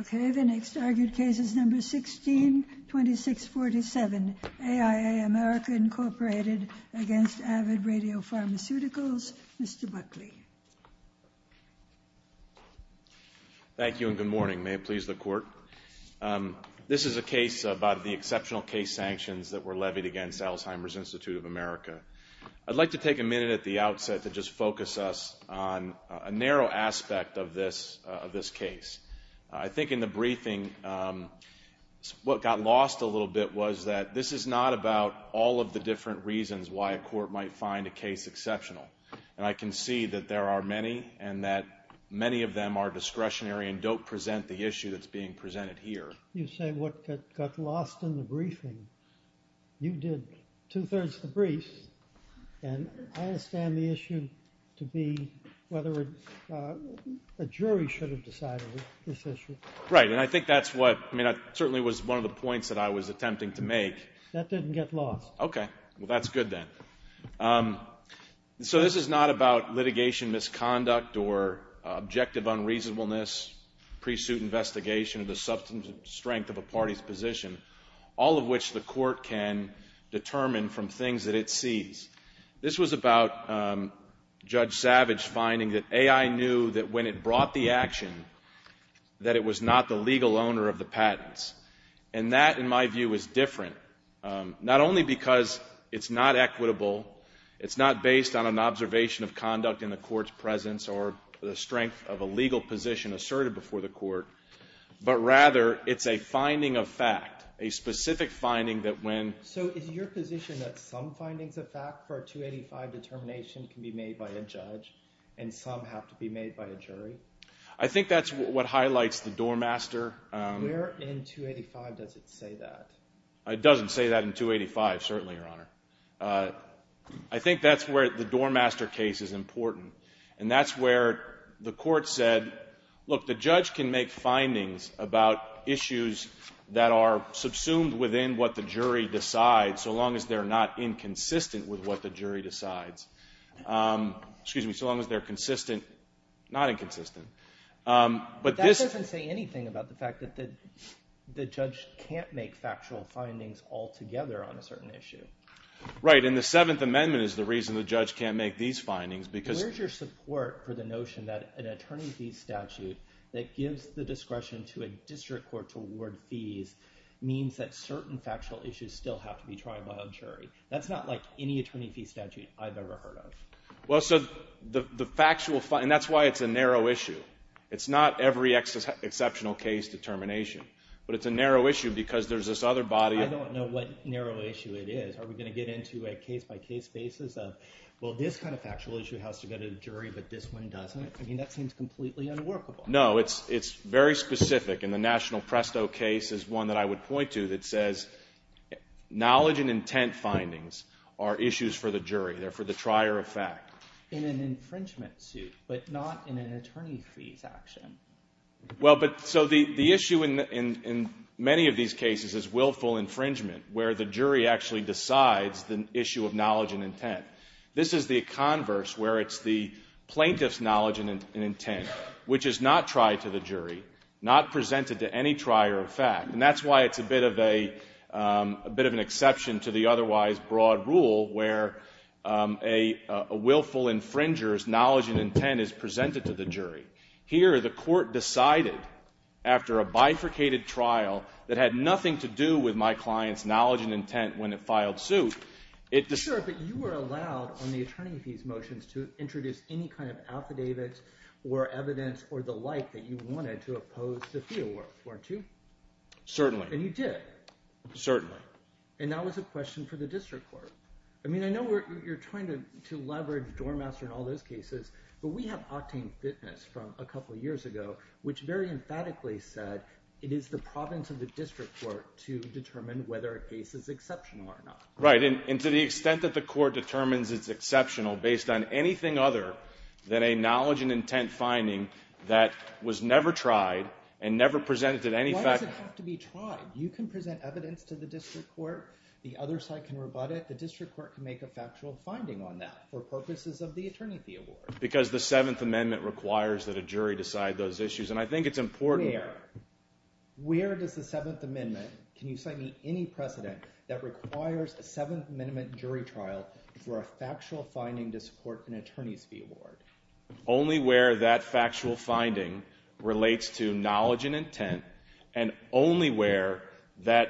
Okay, the next argued case is number 162647, AIA America, Inc. v. Avid Radiopharmaceuticals. Mr. Buckley. Thank you and good morning. May it please the Court. This is a case about the exceptional case sanctions that were levied against Alzheimer's Institute of America. I'd like to take a minute at the outset to just focus us on a narrow aspect of this case. I think in the briefing what got lost a little bit was that this is not about all of the different reasons why a court might find a case exceptional. And I can see that there are many and that many of them are discretionary and don't present the issue that's being presented here. You say what got lost in the briefing. You did two-thirds of the brief. And I understand the issue to be whether a jury should have decided this issue. Right, and I think that's what, I mean that certainly was one of the points that I was attempting to make. That didn't get lost. Okay, well that's good then. So this is not about litigation misconduct or objective unreasonableness, pre-suit investigation of the substance and strength of a party's position, all of which the court can determine from things that it sees. This was about Judge Savage finding that AI knew that when it brought the action that it was not the legal owner of the patents. And that, in my view, is different, not only because it's not equitable, it's not based on an observation of conduct in the court's presence or the strength of a legal position asserted before the court, but rather it's a finding of fact, a specific finding that when So is your position that some findings of fact for a 285 determination can be made by a judge and some have to be made by a jury? I think that's what highlights the doormaster. Where in 285 does it say that? It doesn't say that in 285, certainly, Your Honor. I think that's where the doormaster case is important. And that's where the court said, look, the judge can make findings about issues that are subsumed within what the jury decides, so long as they're not inconsistent with what the jury decides. Excuse me, so long as they're consistent, not inconsistent. That doesn't say anything about the fact that the judge can't make factual findings altogether on a certain issue. Right, and the Seventh Amendment is the reason the judge can't make these findings because Where's your support for the notion that an attorney fee statute that gives the discretion to a district court to award fees means that certain factual issues still have to be tried by a jury? That's not like any attorney fee statute I've ever heard of. Well, so the factual, and that's why it's a narrow issue. It's not every exceptional case determination, but it's a narrow issue because there's this other body of I don't know what narrow issue it is. Are we going to get into a case-by-case basis of, well, this kind of factual issue has to go to the jury, but this one doesn't? I mean, that seems completely unworkable. No, it's very specific, and the National Presto case is one that I would point to that says knowledge and intent findings are issues for the jury. They're for the trier of fact. In an infringement suit, but not in an attorney fees action. Well, but so the issue in many of these cases is willful infringement, where the jury actually decides the issue of knowledge and intent. This is the converse, where it's the plaintiff's knowledge and intent, which is not tried to the jury, not presented to any trier of fact. And that's why it's a bit of an exception to the otherwise broad rule, where a willful infringer's knowledge and intent is presented to the jury. Here, the court decided after a bifurcated trial that had nothing to do with my client's knowledge and intent when it filed suit. Sure, but you were allowed on the attorney fees motions to introduce any kind of affidavits or evidence or the like that you wanted to oppose the fee award, weren't you? Certainly. And you did. Certainly. And that was a question for the district court. I mean, I know you're trying to leverage Dormaster and all those cases, but we have Octane Fitness from a couple years ago, which very emphatically said it is the province of the district court to determine whether a case is exceptional or not. Right. And to the extent that the court determines it's exceptional based on anything other than a knowledge and intent finding that was never tried and never presented to any fact… Why does it have to be tried? You can present evidence to the district court. The other side can rebut it. The district court can make a factual finding on that for purposes of the attorney fee award. Because the Seventh Amendment requires that a jury decide those issues. And I think it's important… Where? Where does the Seventh Amendment… The Seventh Amendment jury trial for a factual finding to support an attorney's fee award. Only where that factual finding relates to knowledge and intent and only where that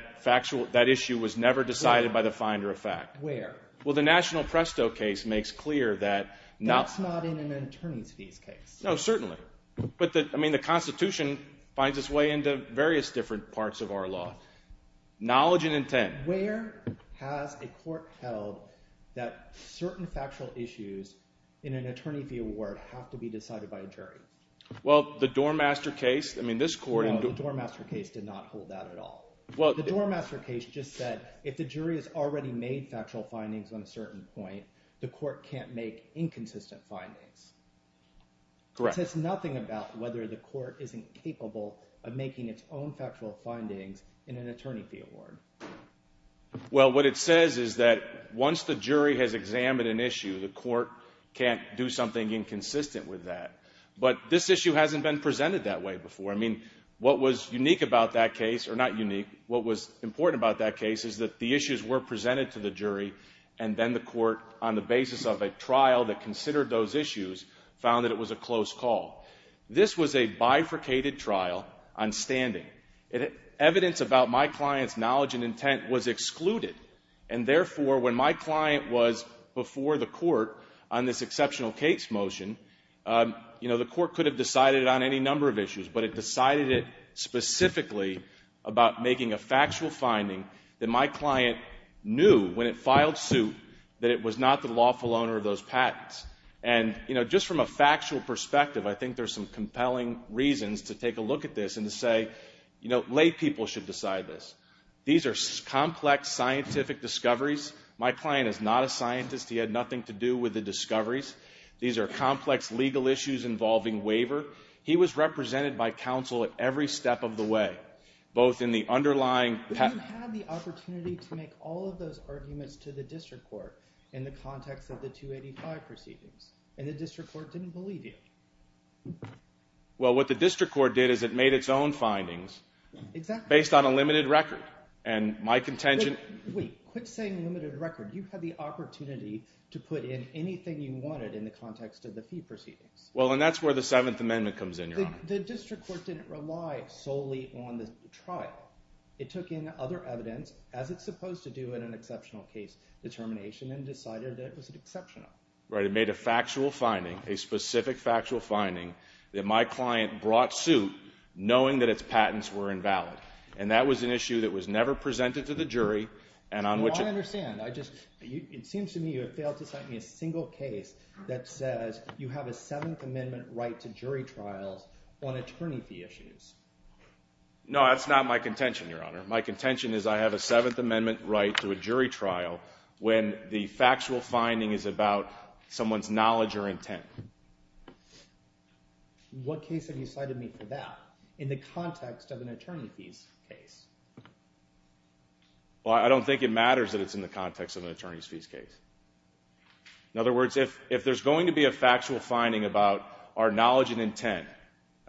issue was never decided by the finder of fact. Where? Well, the National Presto case makes clear that… That's not in an attorney's fees case. No, certainly. But, I mean, the Constitution finds its way into various different parts of our law. Knowledge and intent. Where has a court held that certain factual issues in an attorney fee award have to be decided by a jury? Well, the Dormaster case. I mean this court… No, the Dormaster case did not hold that at all. The Dormaster case just said if the jury has already made factual findings on a certain point, the court can't make inconsistent findings. Correct. That says nothing about whether the court is incapable of making its own factual findings in an attorney fee award. Well, what it says is that once the jury has examined an issue, the court can't do something inconsistent with that. But this issue hasn't been presented that way before. I mean, what was unique about that case, or not unique, what was important about that case is that the issues were presented to the jury, and then the court, on the basis of a trial that considered those issues, found that it was a close call. This was a bifurcated trial on standing. Evidence about my client's knowledge and intent was excluded. And, therefore, when my client was before the court on this exceptional case motion, you know, the court could have decided it on any number of issues. But it decided it specifically about making a factual finding that my client knew when it filed suit that it was not the lawful owner of those patents. And, you know, just from a factual perspective, I think there's some compelling reasons to take a look at this and to say, you know, laypeople should decide this. These are complex scientific discoveries. My client is not a scientist. He had nothing to do with the discoveries. These are complex legal issues involving waiver. He was represented by counsel at every step of the way, both in the underlying patent… But you had the opportunity to make all of those arguments to the district court in the context of the 285 proceedings, and the district court didn't believe you. Well, what the district court did is it made its own findings… Exactly. …based on a limited record. And my contention… Wait. Quit saying limited record. You had the opportunity to put in anything you wanted in the context of the fee proceedings. Well, and that's where the Seventh Amendment comes in, Your Honor. The district court didn't rely solely on the trial. It took in other evidence, as it's supposed to do in an exceptional case determination, and decided that it was exceptional. Right. It made a factual finding, a specific factual finding, that my client brought suit knowing that its patents were invalid. And that was an issue that was never presented to the jury and on which… It seems to me you have failed to cite me a single case that says you have a Seventh Amendment right to jury trials on attorney fee issues. No, that's not my contention, Your Honor. My contention is I have a Seventh Amendment right to a jury trial when the factual finding is about someone's knowledge or intent. What case have you cited me for that in the context of an attorney fees case? Well, I don't think it matters that it's in the context of an attorney fees case. In other words, if there's going to be a factual finding about our knowledge and intent,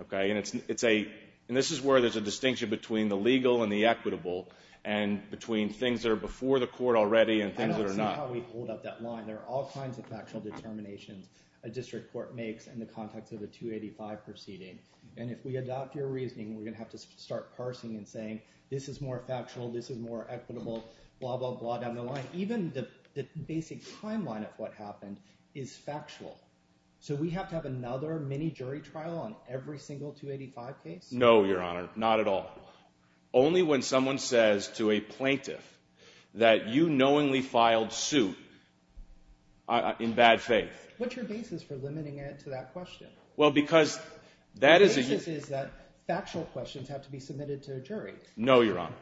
okay, and this is where there's a distinction between the legal and the equitable and between things that are before the court already and things that are not. I don't see how we hold up that line. There are all kinds of factual determinations a district court makes in the context of a 285 proceeding. And if we adopt your reasoning, we're going to have to start parsing and saying this is more factual, this is more equitable, blah, blah, blah, down the line. Even the basic timeline of what happened is factual. So we have to have another mini jury trial on every single 285 case? No, Your Honor, not at all. Only when someone says to a plaintiff that you knowingly filed suit in bad faith. What's your basis for limiting it to that question? The basis is that factual questions have to be submitted to a jury. No, Your Honor.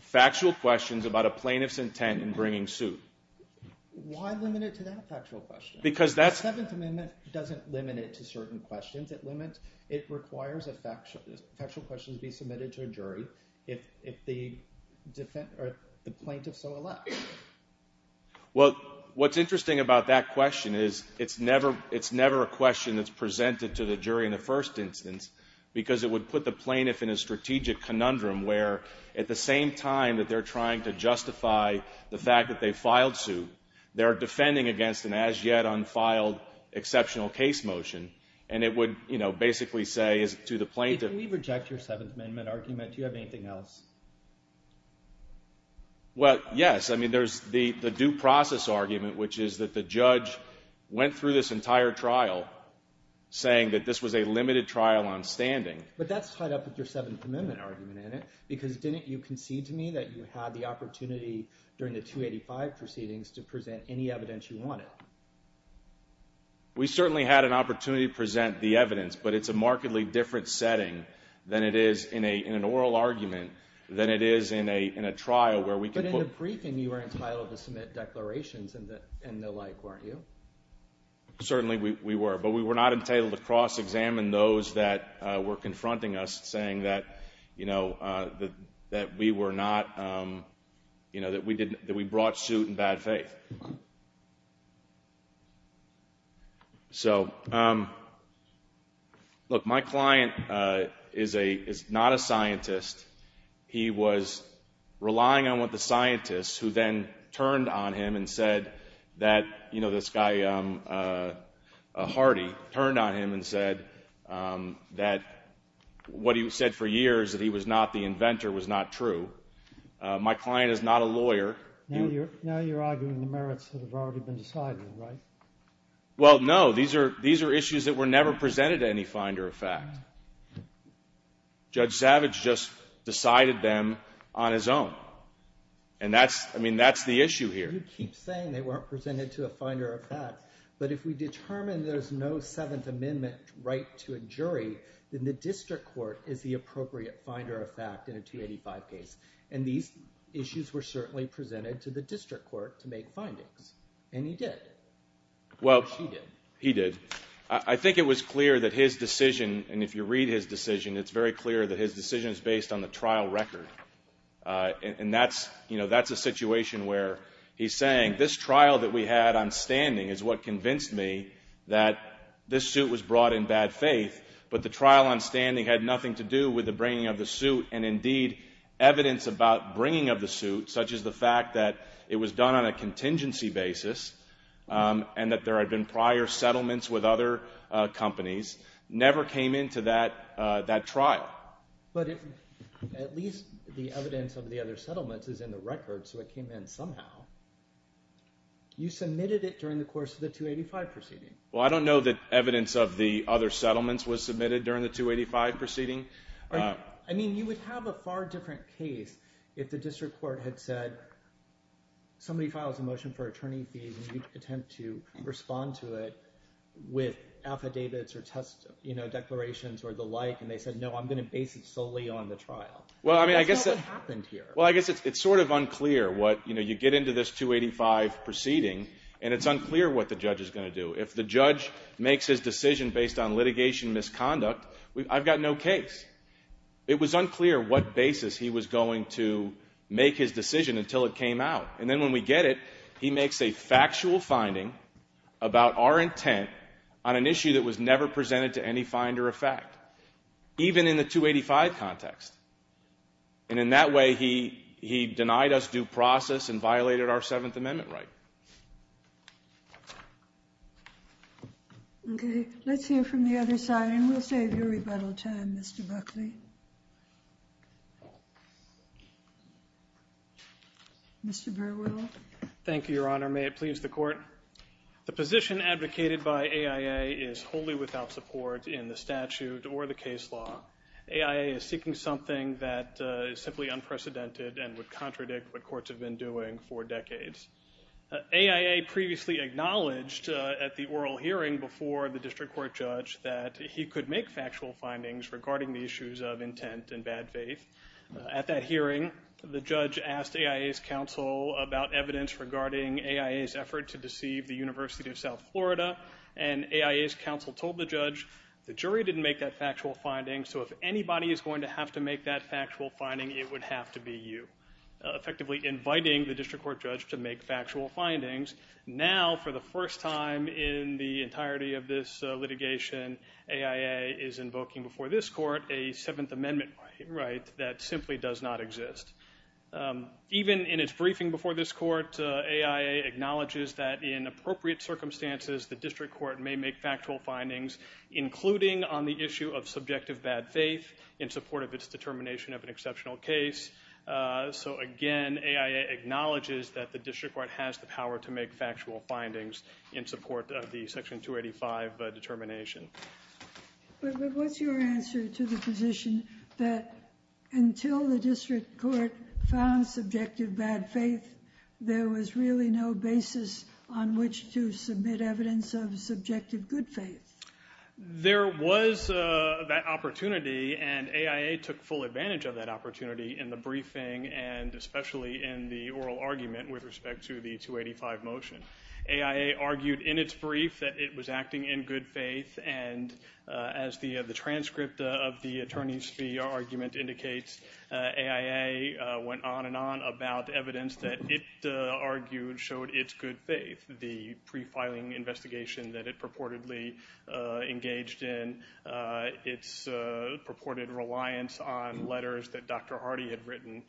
Factual questions about a plaintiff's intent in bringing suit. Why limit it to that factual question? The Seventh Amendment doesn't limit it to certain questions. It requires that factual questions be submitted to a jury if the plaintiff so elects. Well, what's interesting about that question is it's never a question that's presented to the jury in the first instance because it would put the plaintiff in a strategic conundrum where at the same time that they're trying to justify the fact that they filed suit, they're defending against an as-yet-unfiled exceptional case motion. And it would, you know, basically say to the plaintiff. If we reject your Seventh Amendment argument, do you have anything else? Well, yes. I mean, there's the due process argument, which is that the judge went through this entire trial saying that this was a limited trial on standing. But that's tied up with your Seventh Amendment argument, isn't it? Because didn't you concede to me that you had the opportunity during the 285 proceedings to present any evidence you wanted? We certainly had an opportunity to present the evidence, but it's a markedly different setting than it is in an oral argument than it is in a trial where we can quote. But in the briefing, you were entitled to submit declarations and the like, weren't you? Certainly we were, but we were not entitled to cross-examine those that were confronting us saying that, you know, that we were not, you know, that we brought suit in bad faith. So, look, my client is not a scientist. He was relying on what the scientists who then turned on him and said that, you know, this guy Hardy turned on him and said that what he said for years, that he was not the inventor, was not true. My client is not a lawyer. Now you're arguing the merits have already been decided, right? Well, no. These are issues that were never presented to any finder of fact. Judge Savage just decided them on his own. And that's, I mean, that's the issue here. You keep saying they weren't presented to a finder of fact. But if we determine there's no Seventh Amendment right to a jury, then the district court is the appropriate finder of fact in a 285 case. And these issues were certainly presented to the district court to make findings. And he did. Well, he did. I think it was clear that his decision, and if you read his decision, it's very clear that his decision is based on the trial record. And that's, you know, that's a situation where he's saying this trial that we had on standing is what convinced me that this suit was brought in bad faith, but the trial on standing had nothing to do with the bringing of the suit. And, indeed, evidence about bringing of the suit, such as the fact that it was done on a contingency basis and that there had been prior settlements with other companies, never came into that trial. But at least the evidence of the other settlements is in the record, so it came in somehow. You submitted it during the course of the 285 proceeding. Well, I don't know that evidence of the other settlements was submitted during the 285 proceeding. I mean, you would have a far different case if the district court had said somebody files a motion for attorney fees and you attempt to respond to it with affidavits or test declarations or the like, and they said, no, I'm going to base it solely on the trial. Well, I mean, I guess that's what happened here. Well, I guess it's sort of unclear what, you know, you get into this 285 proceeding, and it's unclear what the judge is going to do. If the judge makes his decision based on litigation misconduct, I've got no case. It was unclear what basis he was going to make his decision until it came out. And then when we get it, he makes a factual finding about our intent on an issue that was never presented to any finder of fact, even in the 285 context. And in that way, he denied us due process and violated our Seventh Amendment right. Okay. Let's hear from the other side, and we'll save your rebuttal time, Mr. Buckley. Mr. Burwell. Thank you, Your Honor. May it please the Court. The position advocated by AIA is wholly without support in the statute or the case law. AIA is seeking something that is simply unprecedented and would contradict what courts have been doing for decades. AIA previously acknowledged at the oral hearing before the district court judge that he could make factual findings regarding the issues of intent and bad faith. At that hearing, the judge asked AIA's counsel about evidence regarding AIA's effort to deceive the University of South Florida, and AIA's counsel told the judge, the jury didn't make that factual finding, so if anybody is going to have to make that factual finding, it would have to be you, effectively inviting the district court judge to make factual findings. Now, for the first time in the entirety of this litigation, AIA is invoking before this court a Seventh Amendment right that simply does not exist. Even in its briefing before this court, AIA acknowledges that in appropriate circumstances, the district court may make factual findings, including on the issue of subjective bad faith in support of its determination of an exceptional case. So, again, AIA acknowledges that the district court has the power to make factual findings in support of the Section 285 determination. But what's your answer to the position that until the district court found subjective bad faith, there was really no basis on which to submit evidence of subjective good faith? There was that opportunity, and AIA took full advantage of that opportunity in the briefing and especially in the oral argument with respect to the 285 motion. AIA argued in its brief that it was acting in good faith, and as the transcript of the attorney's fee argument indicates, AIA went on and on about evidence that it argued showed its good faith. The pre-filing investigation that it purportedly engaged in, its purported reliance on letters that Dr. Hardy had written,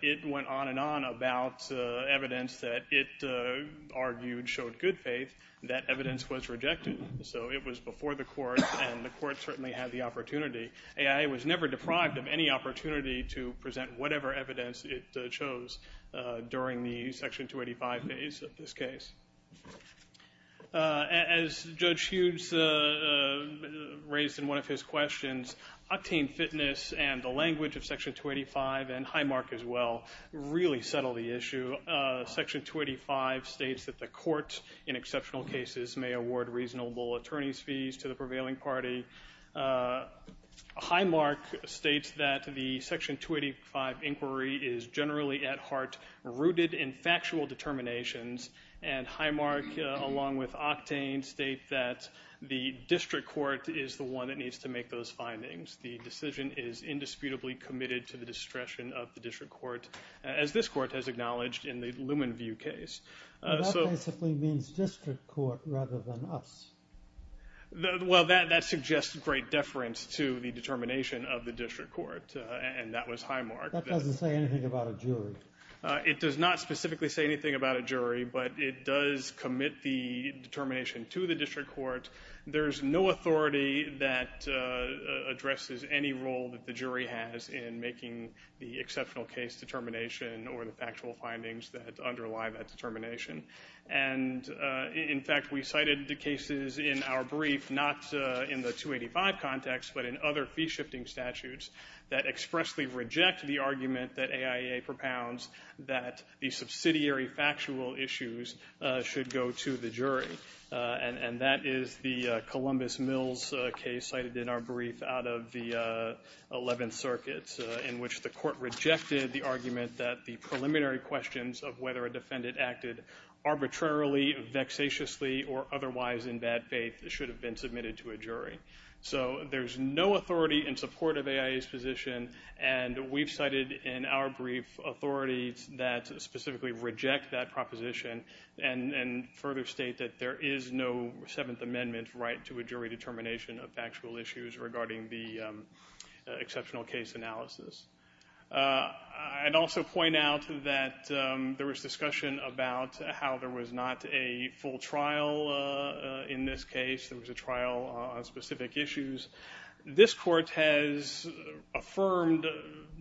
it went on and on about evidence that it argued showed good faith. That evidence was rejected, so it was before the court, and the court certainly had the opportunity. AIA was never deprived of any opportunity to present whatever evidence it chose during the Section 285 phase of this case. As Judge Hughes raised in one of his questions, octane fitness and the language of Section 285, and Highmark as well, really settle the issue. Section 285 states that the court, in exceptional cases, may award reasonable attorney's fees to the prevailing party. Highmark states that the Section 285 inquiry is generally, at heart, rooted in factual determinations, and Highmark, along with octane, state that the district court is the one that needs to make those findings. The decision is indisputably committed to the discretion of the district court, as this court has acknowledged in the Lumenview case. That basically means district court rather than us. Well, that suggests great deference to the determination of the district court, and that was Highmark. That doesn't say anything about a jury. It does not specifically say anything about a jury, but it does commit the determination to the district court. There's no authority that addresses any role that the jury has in making the exceptional case determination and, in fact, we cited the cases in our brief, not in the 285 context, but in other fee-shifting statutes, that expressly reject the argument that AIA propounds that the subsidiary factual issues should go to the jury, and that is the Columbus Mills case cited in our brief out of the Eleventh Circuit, in which the court rejected the argument that the preliminary questions of whether a defendant acted arbitrarily, vexatiously, or otherwise in bad faith should have been submitted to a jury. So there's no authority in support of AIA's position, and we've cited in our brief authorities that specifically reject that proposition and further state that there is no Seventh Amendment right to a jury determination of factual issues regarding the exceptional case analysis. I'd also point out that there was discussion about how there was not a full trial in this case. There was a trial on specific issues. This court has affirmed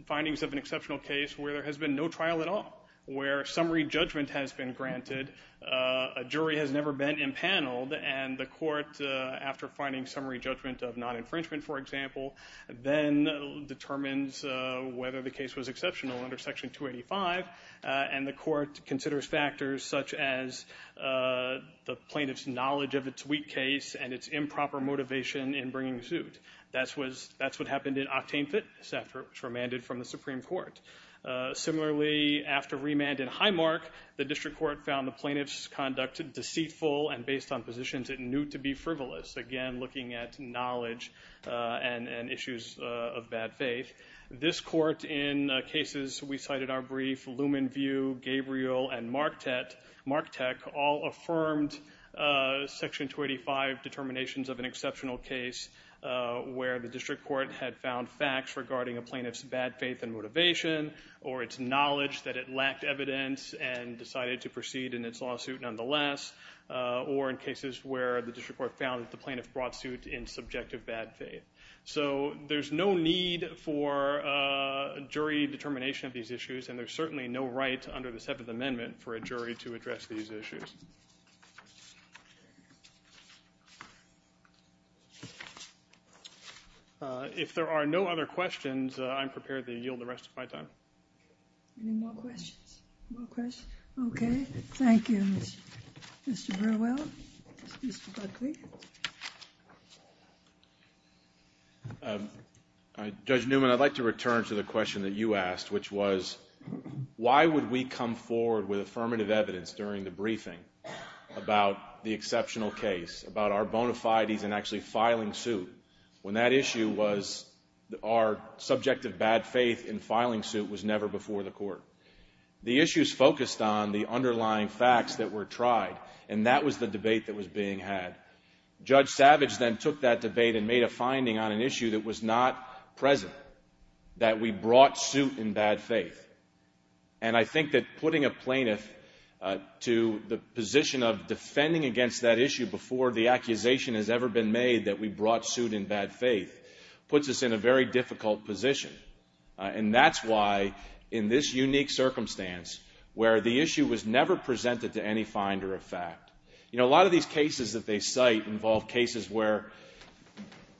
findings of an exceptional case where there has been no trial at all, where summary judgment has been granted, a jury has never been impaneled, and the court, after finding summary judgment of non-infringement, for example, then determines whether the case was exceptional under Section 285, and the court considers factors such as the plaintiff's knowledge of its weak case and its improper motivation in bringing the suit. That's what happened in octane fitness after it was remanded from the Supreme Court. Similarly, after remand in Highmark, the district court found the plaintiff's conduct deceitful and based on positions it knew to be frivolous, again, looking at knowledge and issues of bad faith. This court, in cases we cited in our brief, Lumenview, Gabriel, and Marktech, all affirmed Section 285 determinations of an exceptional case where the district court had found facts regarding a plaintiff's bad faith and motivation or its knowledge that it lacked evidence and decided to proceed in its lawsuit nonetheless, or in cases where the district court found that the plaintiff brought suit in subjective bad faith. So there's no need for jury determination of these issues, and there's certainly no right under the Seventh Amendment for a jury to address these issues. If there are no other questions, I'm prepared to yield the rest of my time. Any more questions? Okay. Thank you, Mr. Burwell, Mr. Buckley. Judge Newman, I'd like to return to the question that you asked, which was why would we come forward with affirmative evidence during the briefing about the exceptional case, about our bona fides in actually filing suit, when that issue was our subjective bad faith in filing suit was never before the court? The issues focused on the underlying facts that were tried, and that was the debate that was being had. Judge Savage then took that debate and made a finding on an issue that was not present, that we brought suit in bad faith. And I think that putting a plaintiff to the position of defending against that issue before the accusation has ever been made that we brought suit in bad faith puts us in a very difficult position. And that's why, in this unique circumstance where the issue was never presented to any finder of fact, you know, a lot of these cases that they cite involve cases where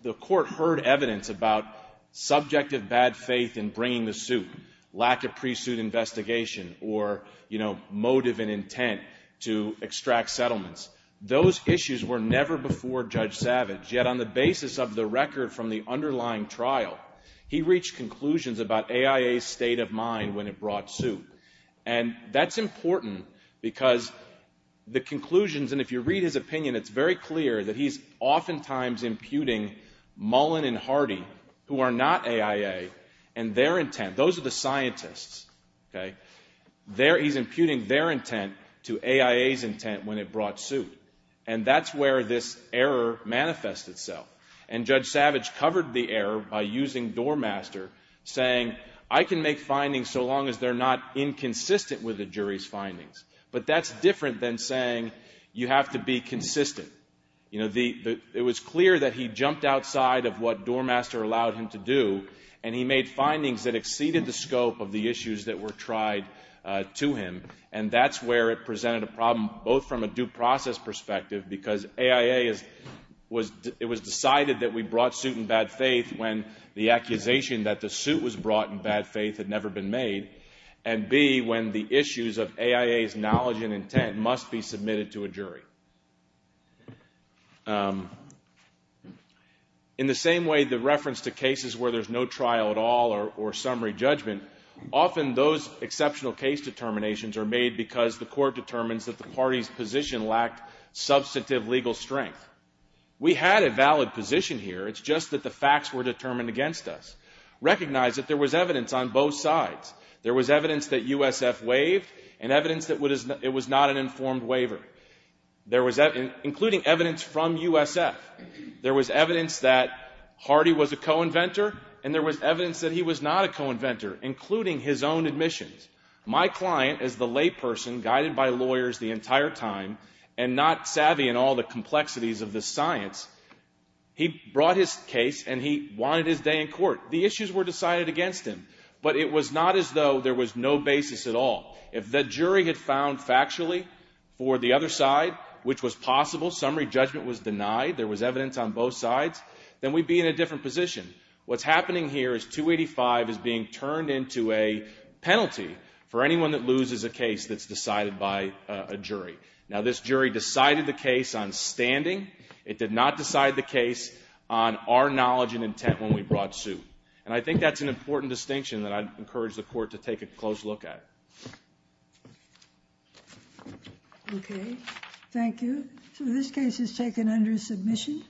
the court heard evidence about subjective bad faith in bringing the suit, lack of pre-suit investigation, or, you know, motive and intent to extract settlements. Those issues were never before Judge Savage, yet on the basis of the record from the underlying trial, he reached conclusions about AIA's state of mind when it brought suit. And that's important because the conclusions, and if you read his opinion, it's very clear that he's oftentimes imputing Mullen and Hardy, who are not AIA, and their intent. Those are the scientists, okay? He's imputing their intent to AIA's intent when it brought suit. And that's where this error manifests itself. And Judge Savage covered the error by using Dormaster, saying, I can make findings so long as they're not inconsistent with the jury's findings. But that's different than saying you have to be consistent. You know, it was clear that he jumped outside of what Dormaster allowed him to do, and he made findings that exceeded the scope of the issues that were tried to him, and that's where it presented a problem both from a due process perspective, because AIA was decided that we brought suit in bad faith when the accusation that the suit was brought in bad faith had never been made, and B, when the issues of AIA's knowledge and intent must be submitted to a jury. In the same way, the reference to cases where there's no trial at all or summary judgment, often those exceptional case determinations are made because the court determines that the party's position lacked substantive legal strength. We had a valid position here. It's just that the facts were determined against us. Recognize that there was evidence on both sides. There was evidence that USF waived and evidence that it was not an informed waiver, including evidence from USF. There was evidence that Hardy was a co-inventor, and there was evidence that he was not a co-inventor, including his own admissions. My client, as the layperson guided by lawyers the entire time and not savvy in all the complexities of the science, he brought his case and he wanted his day in court. The issues were decided against him, but it was not as though there was no basis at all. If the jury had found factually for the other side, which was possible, summary judgment was denied, there was evidence on both sides, then we'd be in a different position. What's happening here is 285 is being turned into a penalty for anyone that loses a case that's decided by a jury. Now, this jury decided the case on standing. It did not decide the case on our knowledge and intent when we brought suit. And I think that's an important distinction that I'd encourage the court to take a close look at. Okay, thank you. So this case is taken under submission.